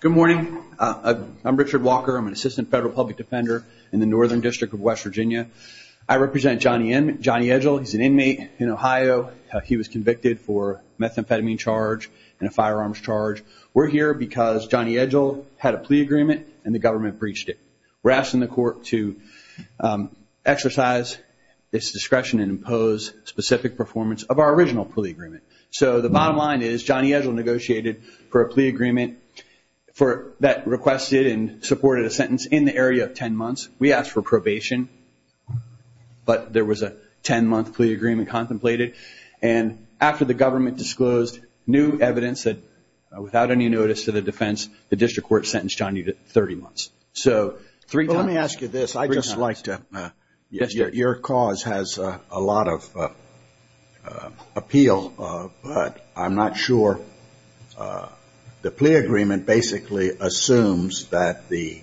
Good morning. I'm Richard Walker. I'm an assistant federal public defender in the Northern District of West Virginia. I represent Johnny Edgell. He's an inmate in Ohio. He was convicted for methamphetamine charge and a firearms charge. We're here because Johnny Edgell had a plea agreement and the government breached it. We're asking the court to exercise its discretion and impose specific performance of our original plea agreement. So the bottom line is Johnny Edgell negotiated for a plea agreement that requested and supported a sentence in the area of 10 months. We asked for probation, but there was a 10-month plea agreement contemplated. And after the government disclosed new evidence that without any notice to the defense, the district court sentenced Johnny to 30 months. So three times. Let me ask you this. Your cause has a lot of appeal, but I'm not sure. The plea agreement basically assumes that the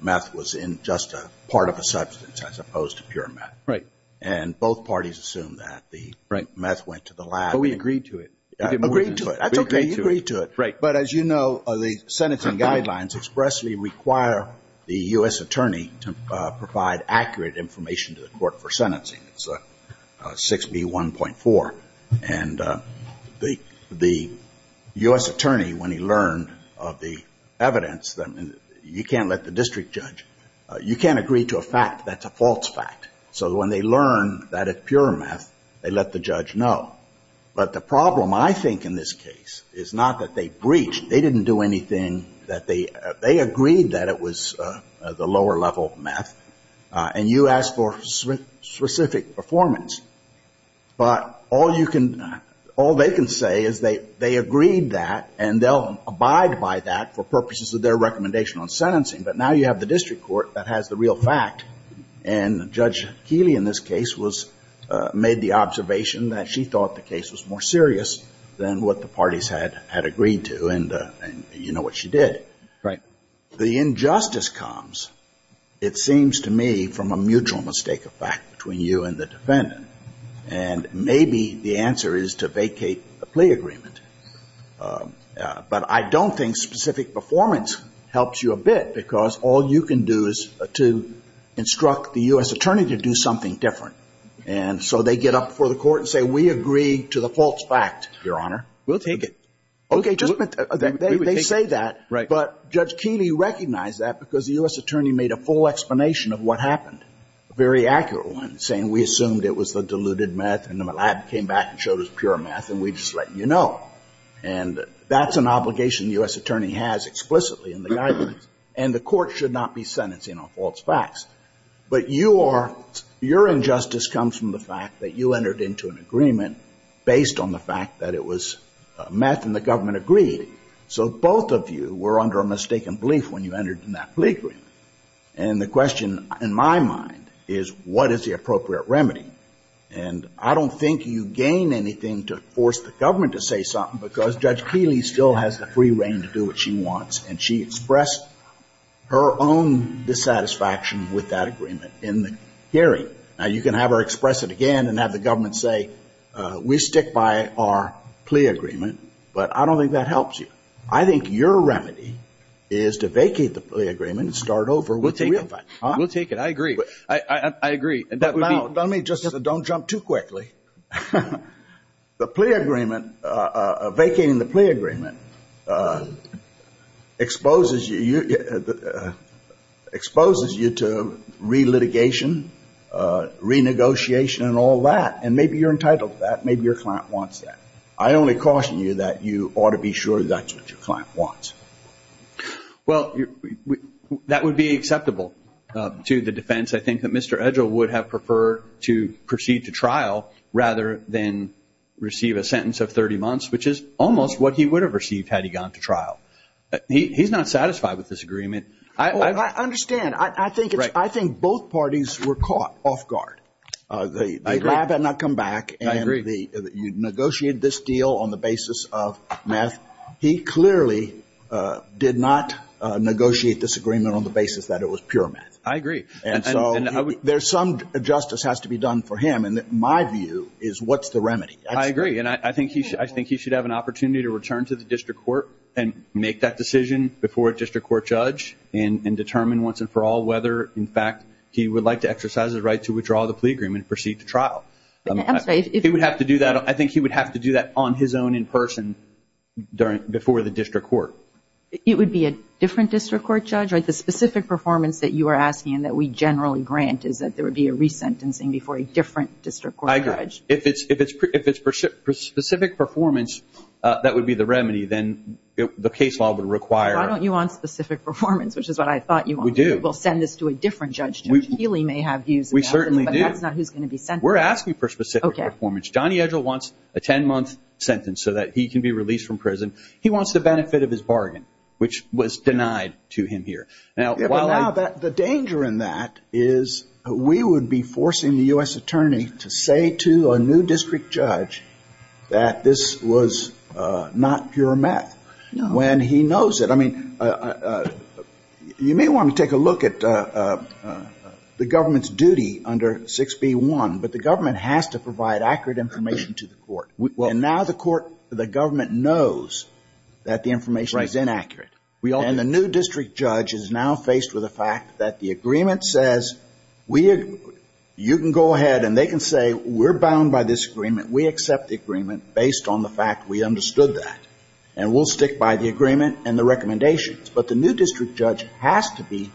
meth was in just a part of a substance as opposed to pure meth. And both parties assume that the meth went to the lab. But we agreed to it. Agreed to it. That's okay. You agreed to it. But as you know, the sentencing guidelines expressly require the U.S. attorney to provide accurate information to the court for sentencing. It's 6B1.4. And the U.S. attorney, when he learned of the evidence, you can't let the district judge, you can't agree to a fact that's a false fact. So when they learn that it's pure meth, they let the judge know. But the problem, I think, in this case is not that they breached. They didn't do anything that they agreed that it was the lower level meth. And you asked for specific performance. But all you can, all they can say is they agreed that and they'll abide by that for purposes of their recommendation on sentencing. But now you have the district court that has the real fact. And Judge Keeley in this case was, made the observation that she thought the case was more serious than what the parties had agreed to. And you know what she did. The injustice comes, it seems to me, from a mutual mistake of fact between you and the defendant. And maybe the answer is to vacate the plea agreement. But I don't think specific performance helps you a bit because all you can do is to instruct the U.S. attorney to do something different. And so they get up before the court and say, we agree to the false fact, Your Honor. We'll take it. Okay. They say that. But Judge Keeley recognized that because the U.S. attorney made a full explanation of what happened, a very accurate one, saying we assumed it was the diluted meth and the lab came back and showed us pure meth and we just let you know. And that's an obligation the U.S. attorney has explicitly in the guidance. And the court should not be sentencing on false facts. But you are, your injustice comes from the fact that you entered into an agreement based on the fact that it was meth and the government agreed. So both of you were under a mistaken belief when you entered into that plea agreement. And the question in my mind is, what is the appropriate remedy? And I don't think you gain anything to force the government to say something because Judge Keeley still has the free reign to do what she wants. And she expressed her own dissatisfaction with that agreement in the hearing. Now, you can have her express it again and have the government say, we stick by our plea agreement, but I don't think that helps you. I think your remedy is to vacate the plea agreement and start over with the real facts. We'll take it. I agree. I agree. Now, let me just, don't jump too quickly. The plea agreement, vacating the plea agreement exposes you to relitigation, renegotiation, and all that. And maybe you're entitled to that. Maybe your client wants that. I only caution you that you ought to be sure that that's what your client wants. Well, that would be acceptable to the defense. I think that Mr. Edgell would have preferred to proceed to trial rather than receive a sentence of 30 months, which is almost what he would have received had he gone to trial. He's not satisfied with this agreement. I understand. I think both parties were caught off guard. The lab had not come back and you negotiated this deal on the basis of meth. He clearly did not negotiate this agreement on the basis that it was pure meth. I agree. And so there's some justice that has to be done for him. And my view is, what's the remedy? I agree. And I think he should have an opportunity to return to the district court and make that decision before a district court judge and determine once and for all whether, in fact, he would like to exercise his right to withdraw the plea agreement and proceed to trial. I think he would have to do that on his own in person before the district court. It would be a different district court judge? The specific performance that you are asking and that we generally grant is that there would be a resentencing before a different district court judge? I agree. If it's specific performance, that would be the remedy. Then the case law would require... Why don't you want specific performance, which is what I thought you wanted. We do. We'll send this to a different judge. Healy may have views about this, but that's not who's going to be sentenced. We're asking for specific performance. Johnny Edgell wants a 10-month sentence so that he can be released from prison. He wants the benefit of his bargain, which was denied to him here. The danger in that is we would be forcing the U.S. attorney to say to a new district judge that this was not pure meth when he knows it. You may want to take a look at the government's duty under 6b.1, but the government has to provide accurate information to the court. Now the government knows that the information is inaccurate and the new district judge is now faced with the fact that the agreement says you can go ahead and they can say we're bound by this agreement. We accept the agreement based on the fact we understood that and we'll stick by the agreement and the recommendations. But the new district judge has to be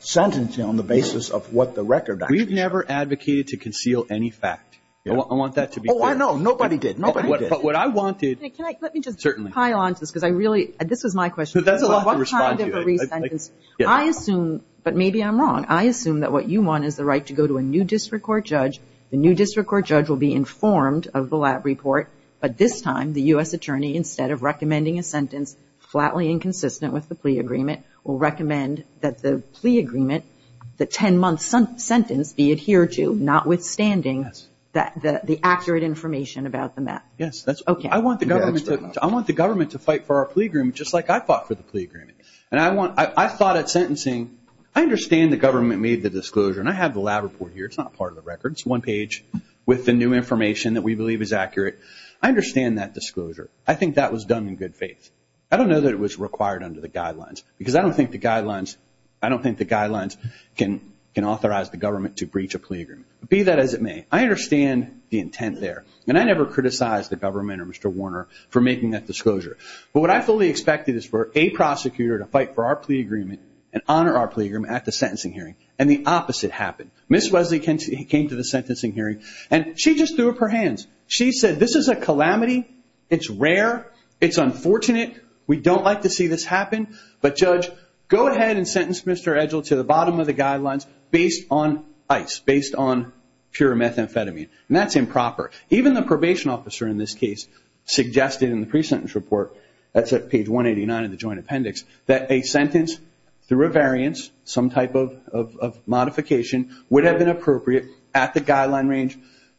sentencing on the basis of what the record actually says. We've never advocated to conceal any fact. I want that to be clear. Oh, I know. Nobody did. Nobody did. What I wanted... Let me just pile on to this because this was my question. I assume, but maybe I'm wrong, I assume that what you want is the right to go to a new district court judge, the new district court judge will be informed of the lab report, but this time the U.S. attorney instead of recommending a sentence flatly inconsistent with the plea agreement will recommend that the plea agreement, the 10-month sentence be adhered to, notwithstanding the accurate information about the meth. Yes. I want the government to fight for our plea agreement just like I fought for the plea agreement. I thought at sentencing, I understand the government made the disclosure and I have the lab report here. It's not part of the record. It's one page with the new information that we believe is accurate. I understand that disclosure. I think that was done in good faith. I don't know that it was required under the guidelines because I don't think the guidelines can authorize the government to breach a plea agreement. Be that as it may, I understand the intent there and I never criticized the government or Mr. Warner for making that disclosure, but what I fully expected is for a prosecutor to fight for our plea agreement and honor our plea agreement at the sentencing hearing and the opposite happened. Ms. Wesley came to the sentencing hearing and she just threw up her hands. She said, this is a calamity. It's rare. It's unfortunate. We don't like to see this happen, but judge, go ahead and sentence Mr. Edgell to the bottom of the guidelines based on ICE, based on pure methamphetamine and that's improper. Even the probation officer in this case suggested in the pre-sentence report, that's at page 189 of the joint appendix, that a sentence through a variance, some type of modification, would have been appropriate at the guideline range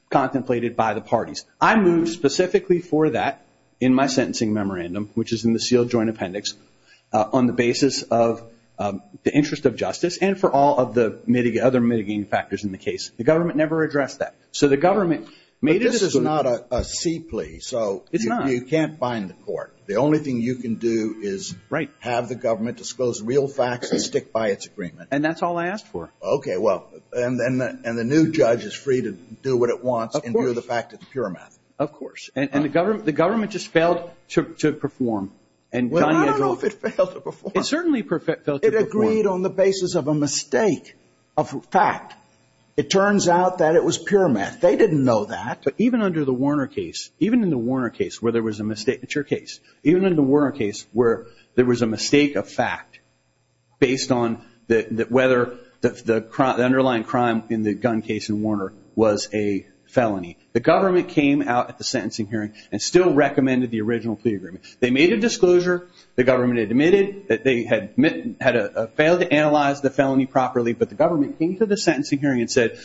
contemplated by the parties. I moved specifically for that in my sentencing memorandum, which is in the sealed joint appendix, on the basis of the interest of justice and for all of the other mitigating factors in the case. The government never addressed that. So the government made it a decision. But this is not a C plea, so you can't bind the court. The only thing you can do is have the government disclose real facts and stick by its agreement. And that's all I asked for. Okay, well, and the new judge is free to do what it wants and do the fact of the pure meth. Of course. And the government just failed to perform. It certainly failed to perform. It agreed on the basis of a mistake of fact. It turns out that it was pure meth. They didn't know that. But even under the Warner case, even in the Warner case where there was a mistake, it's your case, even in the Warner case where there was a mistake of fact based on whether the underlying crime in the gun case in Warner was a felony, the government came out at the sentencing hearing and still recommended the original plea agreement. They made a disclosure, the government admitted that they had failed to analyze the felony properly, but the government came to the sentencing hearing and said,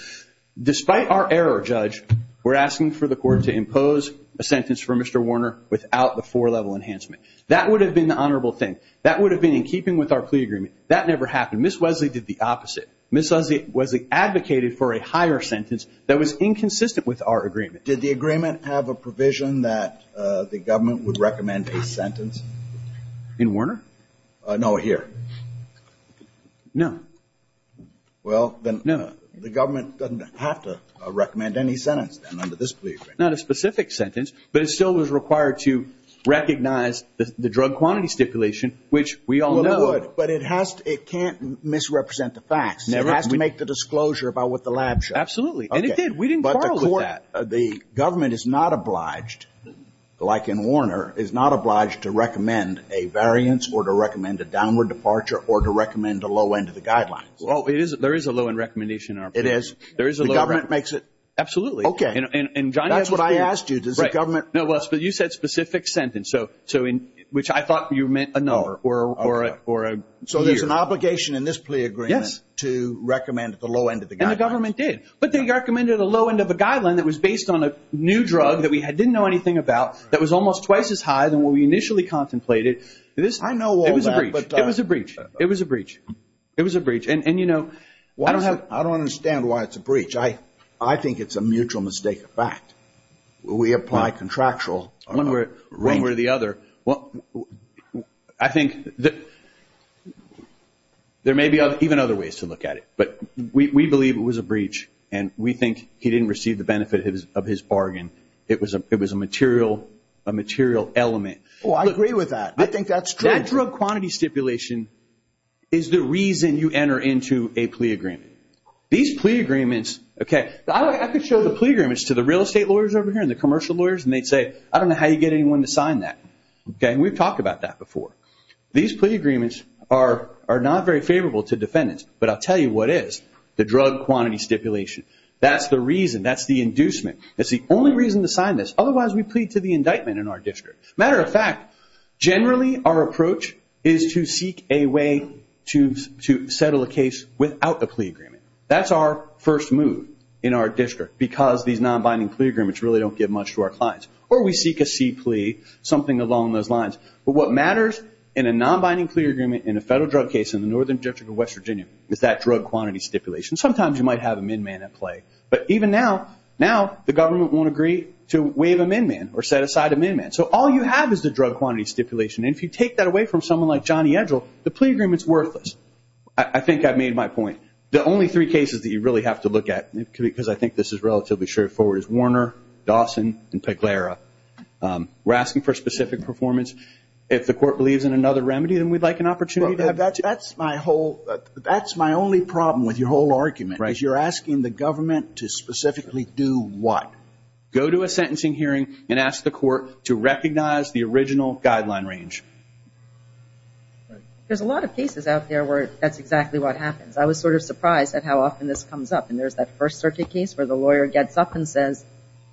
despite our error, judge, we're asking for the court to impose a sentence for Mr. Warner without the four-level enhancement. That would have been the honorable thing. That would have been in keeping with our plea agreement. That never happened. Ms. Wesley did the opposite. Ms. Wesley advocated for a higher sentence that was inconsistent with our agreement. Did the agreement have a provision that the government would recommend a sentence? In Warner? No, here. No. Well, then the government doesn't have to recommend any sentence then under this plea agreement. Not a specific sentence, but it still was required to recognize the drug quantity stipulation, which we all know. Well, it would, but it can't misrepresent the facts. It has to make the disclosure about what the lab showed. Absolutely. And it did. We didn't quarrel with that. The government is not obliged, like in Warner, is not obliged to recommend a variance or to recommend a downward departure or to recommend a low end of the guidelines. Well, there is a low end recommendation in our plea agreement. It is? There is a low end. The government makes it? Absolutely. Okay. And John, that's what I asked you. Right. Does the government? No, but you said specific sentence, which I thought you meant a number or a year. So there's an obligation in this plea agreement to recommend the low end of the guidelines. And the government did, but they recommended a low end of a guideline that was based on a new drug that we didn't know anything about that was almost twice as high than what we initially contemplated. I know all that. It was a breach. It was a breach. It was a breach. It was a breach. And you know, I don't have. I don't understand why it's a breach. I think it's a mutual mistake of fact. We apply contractual. One way or the other. Well, I think there may be even other ways to look at it, but we believe it was a breach and we think he didn't receive the benefit of his bargain. It was a material element. Oh, I agree with that. I think that's true. That drug quantity stipulation is the reason you enter into a plea agreement. These plea agreements. Okay. I could show the plea agreements to the real estate lawyers over here and the commercial lawyers and they'd say, I don't know how you get anyone to sign that. Okay. And we've talked about that before. These plea agreements are not very favorable to defendants, but I'll tell you what is. The drug quantity stipulation. That's the reason. That's the inducement. That's the only reason to sign this. Otherwise, we plead to the indictment in our district. Matter of fact, generally our approach is to seek a way to settle a case without a plea agreement. That's our first move in our district because these non-binding plea agreements really don't give much to our clients. Or we seek a C plea. Something along those lines. But what matters in a non-binding plea agreement in a federal drug case in the Northern District of West Virginia is that drug quantity stipulation. Sometimes you might have a min-man at play. But even now, now the government won't agree to waive a min-man or set aside a min-man. So all you have is the drug quantity stipulation and if you take that away from someone like Johnny Edgell, the plea agreement's worthless. I think I've made my point. The only three cases that you really have to look at, because I think this is relatively straightforward, is Warner, Dawson, and Peguera. We're asking for a specific performance. If the court believes in another remedy, then we'd like an opportunity to have that. That's my only problem with your whole argument, is you're asking the government to specifically do what? Go to a sentencing hearing and ask the court to recognize the original guideline range. There's a lot of cases out there where that's exactly what happens. I was sort of surprised at how often this comes up. And there's that first circuit case where the lawyer gets up and says,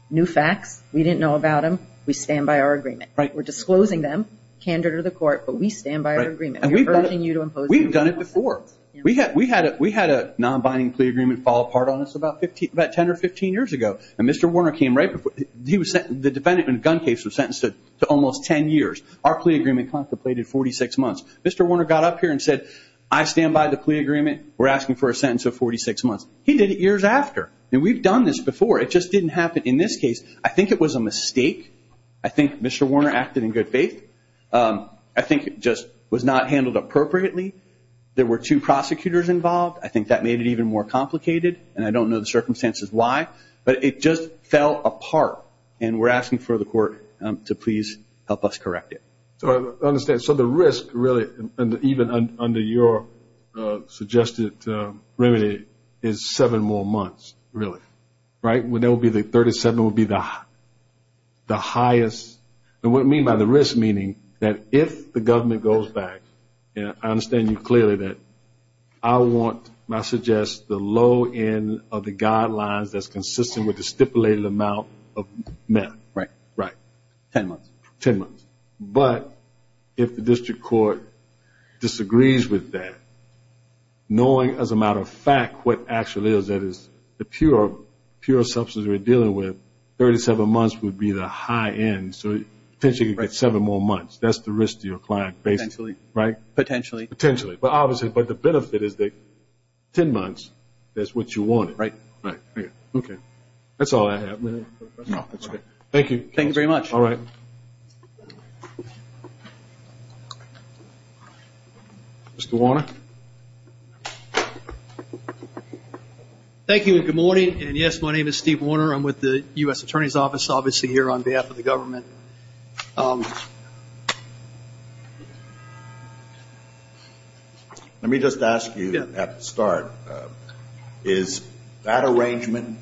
new facts. We didn't know about them. We stand by our agreement. Right. We're disclosing them, candor to the court, but we stand by our agreement. We're urging you to impose. We've done it before. We had a non-binding plea agreement fall apart on us about 10 or 15 years ago. And Mr. Warner came right before. The defendant in a gun case was sentenced to almost 10 years. Our plea agreement contemplated 46 months. Mr. Warner got up here and said, I stand by the plea agreement. We're asking for a sentence of 46 months. He did it years after. And we've done this before. It just didn't happen. In this case, I think it was a mistake. I think Mr. Warner acted in good faith. I think it just was not handled appropriately. There were two prosecutors involved. I think that made it even more complicated. And I don't know the circumstances why. But it just fell apart. And we're asking for the court to please help us correct it. I understand. So the risk, really, even under your suggested remedy, is seven more months, really, right? When there will be the 37 will be the highest. And what I mean by the risk, meaning that if the government goes back, I understand you clearly that I want, and I suggest, the low end of the guidelines that's consistent with the stipulated amount of meth. Right, right. 10 months. 10 months. But if the district court disagrees with that, knowing as a matter of fact what actually is, that is the pure substance we're dealing with, 37 months would be the high end. So potentially you could get seven more months. That's the risk to your client, basically, right? Potentially. Potentially. But obviously, but the benefit is that 10 months, that's what you wanted. Right. Right. OK. That's all I have. Thank you. Thank you very much. All right. Mr. Warner. Thank you and good morning. And yes, my name is Steve Warner. I'm with the US Attorney's Office, obviously, here on behalf of the government. Let me just ask you at the start. Is that arrangement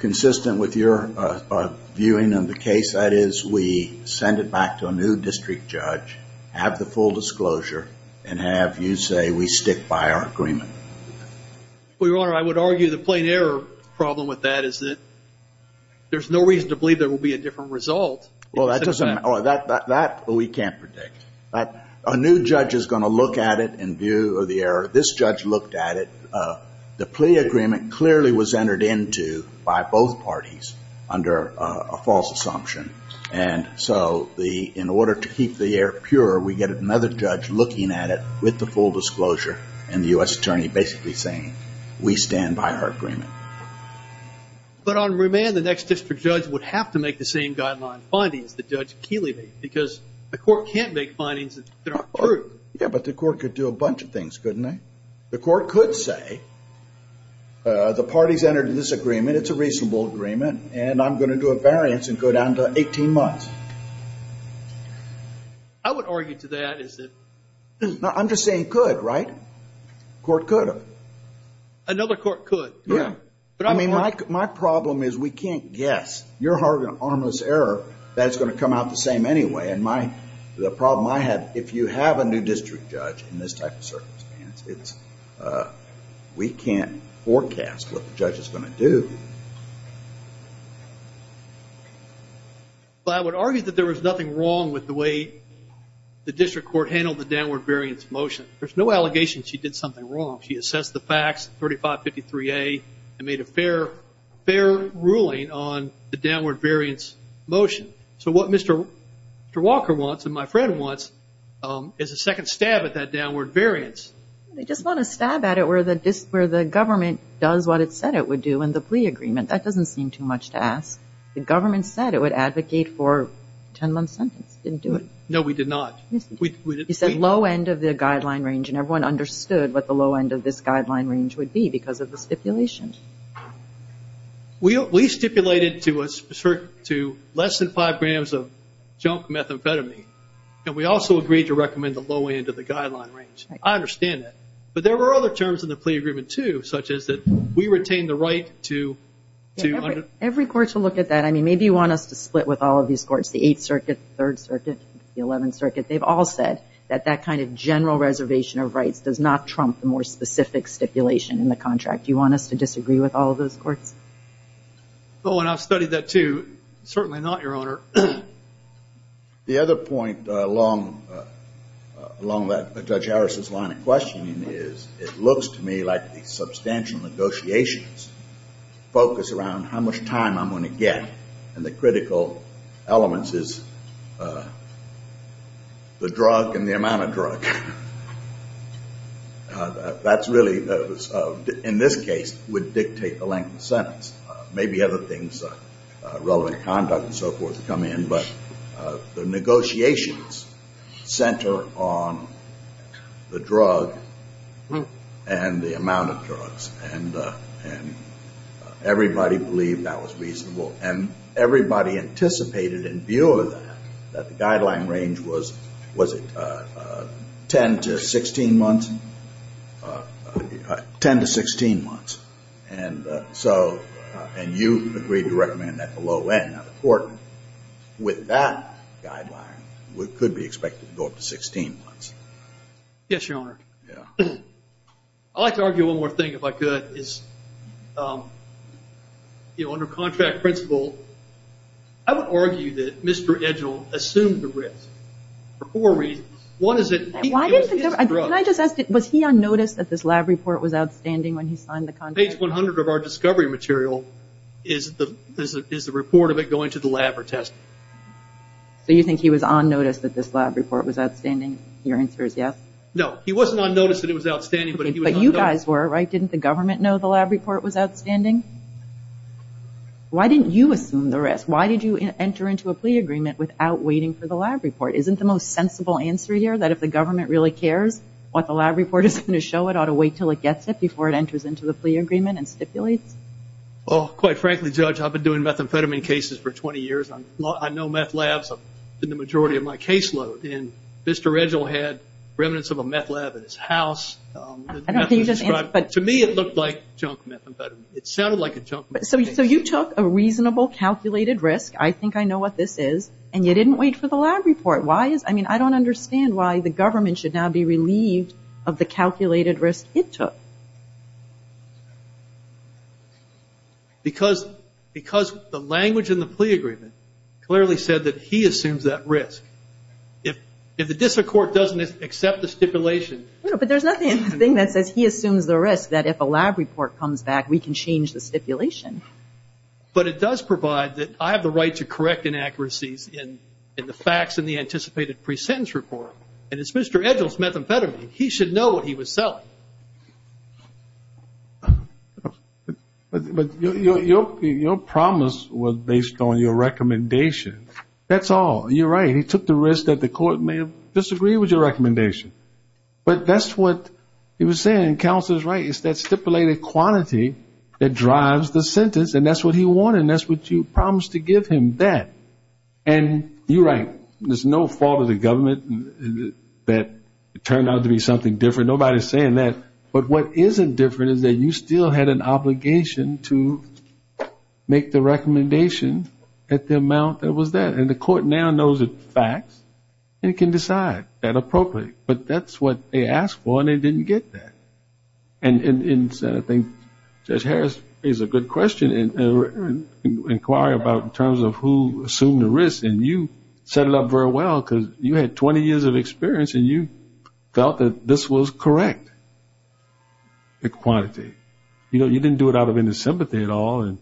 consistent with your viewing of the case? That is, we send it back to a new district judge, have the full disclosure, and have you say we stick by our agreement? Well, Your Honor, I would argue the plain error problem with that is that there's no reason to believe there will be a different result. Well, that doesn't matter. That we can't predict. A new judge is going to look at it in view of the error. This judge looked at it. The plea agreement clearly was entered into by both parties under a false assumption. And so in order to keep the air pure, we get another judge looking at it with the full disclosure, and the US Attorney basically saying, we stand by our agreement. But on remand, the next district judge would have to make the same guideline findings that Judge Keeley made, because the court can't make findings that aren't true. Yeah, but the court could do a bunch of things, couldn't they? The court could say, the parties entered into this agreement. It's a reasonable agreement, and I'm going to do a variance and go down to 18 months. I would argue to that is that. I'm just saying could, right? Court could have. Another court could. Yeah. But I mean, my problem is we can't guess. Your harmless error, that's going to come out the same anyway. And the problem I have, if you have a new district judge in this type of circumstance, it's we can't forecast what the judge is going to do. Well, I would argue that there was nothing wrong with the way the district court handled the downward variance motion. There's no allegation she did something wrong. She assessed the facts, 3553A, and made a fair ruling on the downward variance motion. So what Mr. Walker wants, and my friend wants, is a second stab at that downward variance. They just want to stab at it where the government does what it said it would do in the plea agreement. That doesn't seem too much to ask. The government said it would advocate for a 10-month sentence. It didn't do it. No, we did not. You said low end of the guideline range, and everyone understood what the low end of this guideline range would be because of the stipulation. We stipulated to less than five grams of junk methamphetamine. And we also agreed to recommend the low end of the guideline range. I understand that. But there were other terms in the plea agreement, too, such as that we retain the right to under- Every court should look at that. Maybe you want us to split with all of these courts, the Eighth Circuit, Third Circuit, the Eleventh Circuit. They've all said that that kind of general reservation of rights does not trump the more specific stipulation in the contract. You want us to disagree with all of those courts? Oh, and I've studied that, too. Certainly not, Your Honor. The other point along that, Judge Harris's line of questioning is it looks to me like the substantial negotiations focus around how much time I'm going to get. And the critical elements is the drug and the amount of drug. That's really, in this case, would dictate the length of the sentence. Maybe other things, relevant conduct and so forth, come in, but the negotiations center on the drug and the amount of drugs. And everybody believed that was reasonable. And everybody anticipated, in view of that, that the guideline range was, was it 10 to 16 months? 10 to 16 months. And so you agreed to recommend that the low end of the court. With that guideline, we could be expected to go up to 16 months. Yes, Your Honor. I'd like to argue one more thing, if I could. Under contract principle, I would argue that Mr. Edgell assumed the risk for four reasons. One is that he was his drug. Can I just ask, was he unnoticed that this lab report was Page 100 of our discovery material, is the report of it going to the lab or test? So you think he was unnoticed that this lab report was outstanding? Your answer is yes? No, he wasn't unnoticed that it was outstanding, but he was unnoticed. But you guys were, right? Didn't the government know the lab report was outstanding? Why didn't you assume the risk? Why did you enter into a plea agreement without waiting for the lab report? Isn't the most sensible answer here, that if the government really cares what the lab report is going to show, it ought to wait till it gets it before it goes into a plea agreement and stipulates? Well, quite frankly, Judge, I've been doing methamphetamine cases for 20 years. I know meth labs in the majority of my caseload. And Mr. Edgell had remnants of a meth lab at his house. I don't think you just answered, but- To me, it looked like junk methamphetamine. It sounded like a junk methamphetamine. So you took a reasonable calculated risk, I think I know what this is, and you didn't wait for the lab report. Why is, I mean, I don't understand why the government should now be relieved of the calculated risk it took? Because the language in the plea agreement clearly said that he assumes that risk. If the district court doesn't accept the stipulation- No, but there's nothing in the thing that says, he assumes the risk, that if a lab report comes back, we can change the stipulation. But it does provide that I have the right to correct inaccuracies in the facts in the anticipated pre-sentence report. And it's Mr. Edgell's methamphetamine. He should know what he was selling. But your promise was based on your recommendation. That's all. You're right. He took the risk that the court may have disagreed with your recommendation. But that's what he was saying. Counselor's right, it's that stipulated quantity that drives the sentence, and that's what he wanted, and that's what you promised to give him, that. And you're right. There's no fault of the government that turned out to be something different. Nobody's saying that. But what isn't different is that you still had an obligation to make the recommendation at the amount that was there. And the court now knows the facts and can decide that appropriately. But that's what they asked for, and they didn't get that. And I think Judge Harris raised a good question and inquiry about in terms of who assumed the risk. And you set it up very well, because you had 20 years of experience, and you felt that this was correct, the quantity. You didn't do it out of any sympathy at all and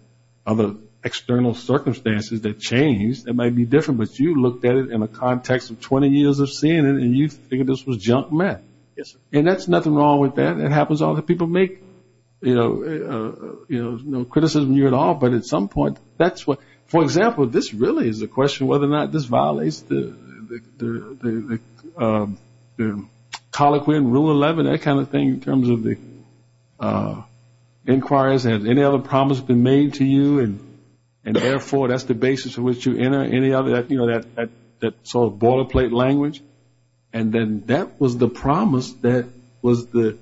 other external circumstances that changed. It might be different, but you looked at it in a context of 20 years of seeing it, and you figured this was junk meth. And that's nothing wrong with that. It happens all the people make criticism of you at all. But at some point, that's what. For example, this really is a question whether or not this violates the colloquy in Rule 11, that kind of thing, in terms of the inquiries. Has any other promise been made to you? And therefore, that's the basis on which you enter? Any other that sort of boilerplate language? And then that was the promise that was the,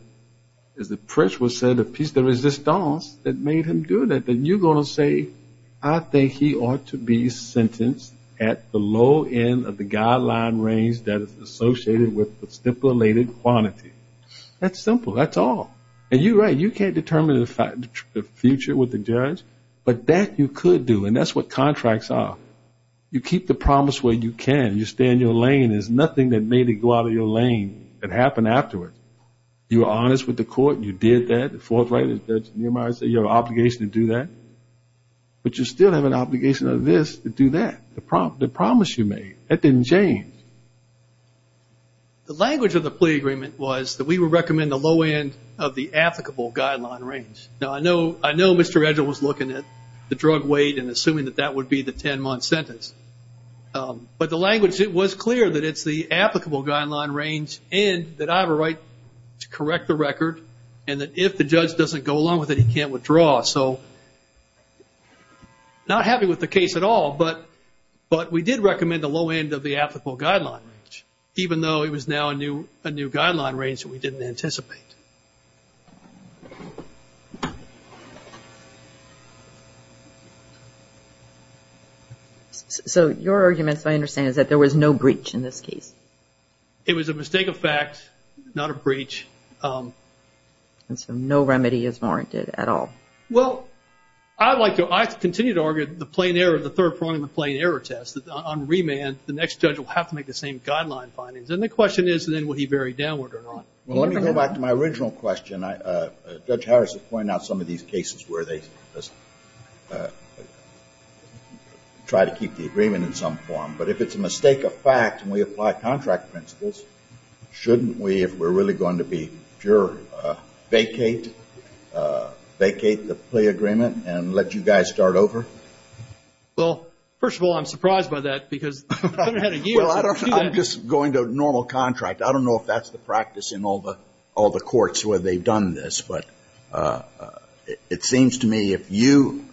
as the press would say, the piece de resistance that made him do that. Then you're going to say, I think he ought to be sentenced at the low end of the guideline range that is associated with the stipulated quantity. That's simple. That's all. And you're right. You can't determine the future with the judge, but that you could do. And that's what contracts are. You keep the promise where you can. You stay in your lane. There's nothing that made it go out of your lane that happened afterwards. You were honest with the court, and you did that. The fourth right is that you have an obligation to do that. But you still have an obligation of this to do that. The promise you made, that didn't change. The language of the plea agreement was that we would recommend the low end of the applicable guideline range. Now, I know Mr. Edgell was looking at the drug weight and assuming that that would be the 10-month sentence. But the language, it was clear that it's the applicable guideline range and that I have a right to correct the record, and that if the judge doesn't go along with it, he can't withdraw. So not happy with the case at all, but we did recommend the low end of the applicable guideline range, even though it was now a new guideline range that we didn't anticipate. So your argument, as I understand it, is that there was no breach in this case. It was a mistake of fact, not a breach. And so no remedy is warranted at all. Well, I'd like to continue to argue the plain error of the third point of the plain error test, that on remand, the next judge will have to make the same guideline findings. And the question is, then, will he vary downward or not? Well, let me go back to my original question. Judge Harris has pointed out some of these cases where they try to keep the agreement in some form. But if it's a mistake of fact and we apply contract principles, shouldn't we, if we're really going to be pure, vacate the plea agreement and let you guys start over? Well, first of all, I'm surprised by that, because I've been ahead of you. Well, I'm just going to normal contract. I don't know if that's the practice in all the courts where they've done this. But it seems to me, if you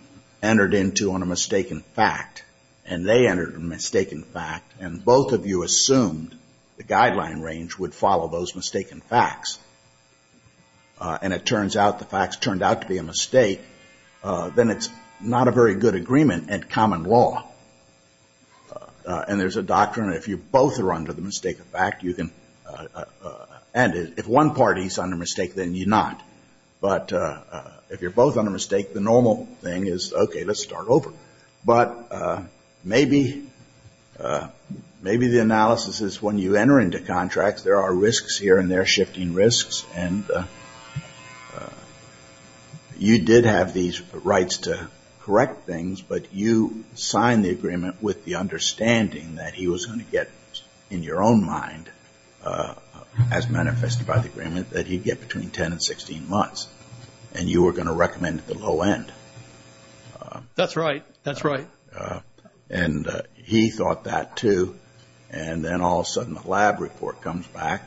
entered into on a mistaken fact, and they entered a mistaken fact, and both of you assumed the guideline range would follow those mistaken facts, and it turns out the facts turned out to be a mistake, then it's not a very good agreement at common law. And there's a doctrine that if you both are under the mistake of fact, you can end it. If one party is under mistake, then you're not. But if you're both under mistake, the normal thing is, OK, let's start over. But maybe the analysis is when you enter into contracts, there are risks here and there, shifting risks. And you did have these rights to correct things, but you signed the agreement with the understanding that he was going to get, in your own mind, as manifested by the agreement, that he'd get between 10 and 16 months. And you were going to recommend at the low end. That's right. That's right. And he thought that, too. And then all of a sudden, the lab report comes back,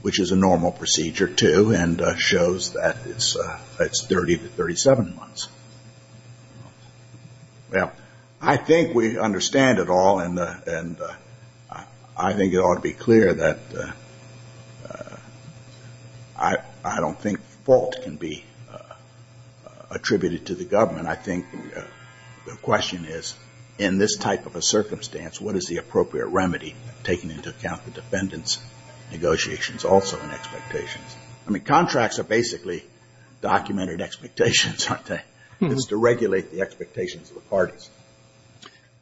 which is a normal procedure, too, and shows that it's 30 to 37 months. Well, I think we understand it all, and I think it ought to be clear that I don't think fault can be attributed to the government. I think the question is, in this type of a circumstance, what is the appropriate remedy, taking into account the defendants' negotiations, also, and expectations? I mean, contracts are basically documented expectations, aren't they? It's to regulate the expectations of the parties.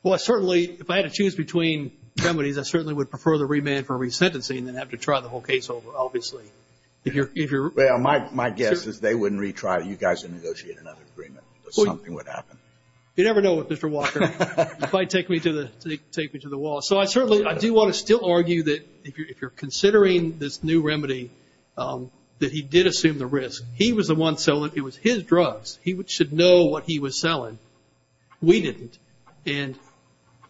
Well, certainly, if I had to choose between remedies, I certainly would prefer the remand for resentencing than have to try the whole case over, obviously. Well, my guess is they wouldn't retry it. You guys would negotiate another agreement. Something would happen. You never know what Mr. Walker might take me to the wall. So I certainly do want to still argue that, if you're considering this new remedy, that he did assume the risk. He was the one selling. It was his drugs. He should know what he was selling. We didn't. And,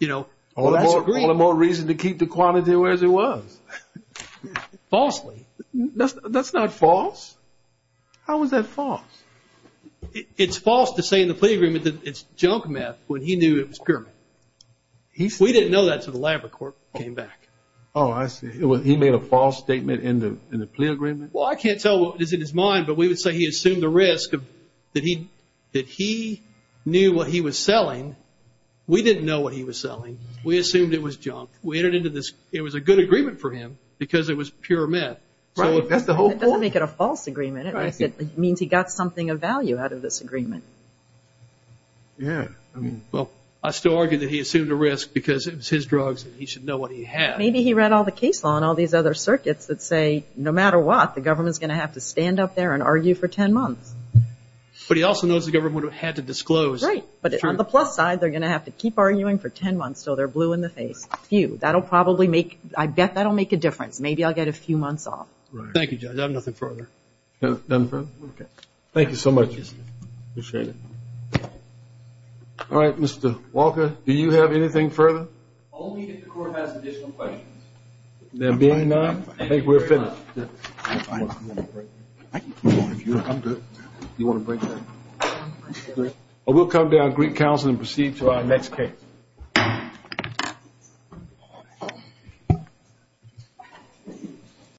you know, all the more reason to keep the quantity where it was. Falsely. That's not false. How is that false? It's false to say in the plea agreement that it's junk meth when he knew it was pure meth. We didn't know that until the labor court came back. Oh, I see. He made a false statement in the plea agreement? Well, I can't tell what is in his mind, but we would say he assumed the risk that he knew what he was selling. We didn't know what he was selling. We assumed it was junk. It was a good agreement for him because it was pure meth. That doesn't make it a false agreement. It means he got something of value out of this agreement. Yeah. Well, I still argue that he assumed the risk because it was his drugs and he should know what he had. Maybe he read all the case law and all these other circuits that say, no matter what, the government's going to have to stand up there and argue for 10 months. But he also knows the government would have had to disclose. Right. But on the plus side, they're going to have to keep arguing for 10 months until they're blue in the face. Phew. That'll probably make – I bet that'll make a difference. Maybe I'll get a few months off. Thank you, Judge. I have nothing further. Nothing further? Okay. Thank you so much. Appreciate it. All right, Mr. Walker, do you have anything further? Only if the Court has additional questions. There being none, I think we're finished. Thank you very much. I'm good. Do you want a break? We'll come down to Greek Council and proceed to our next case. Thank you.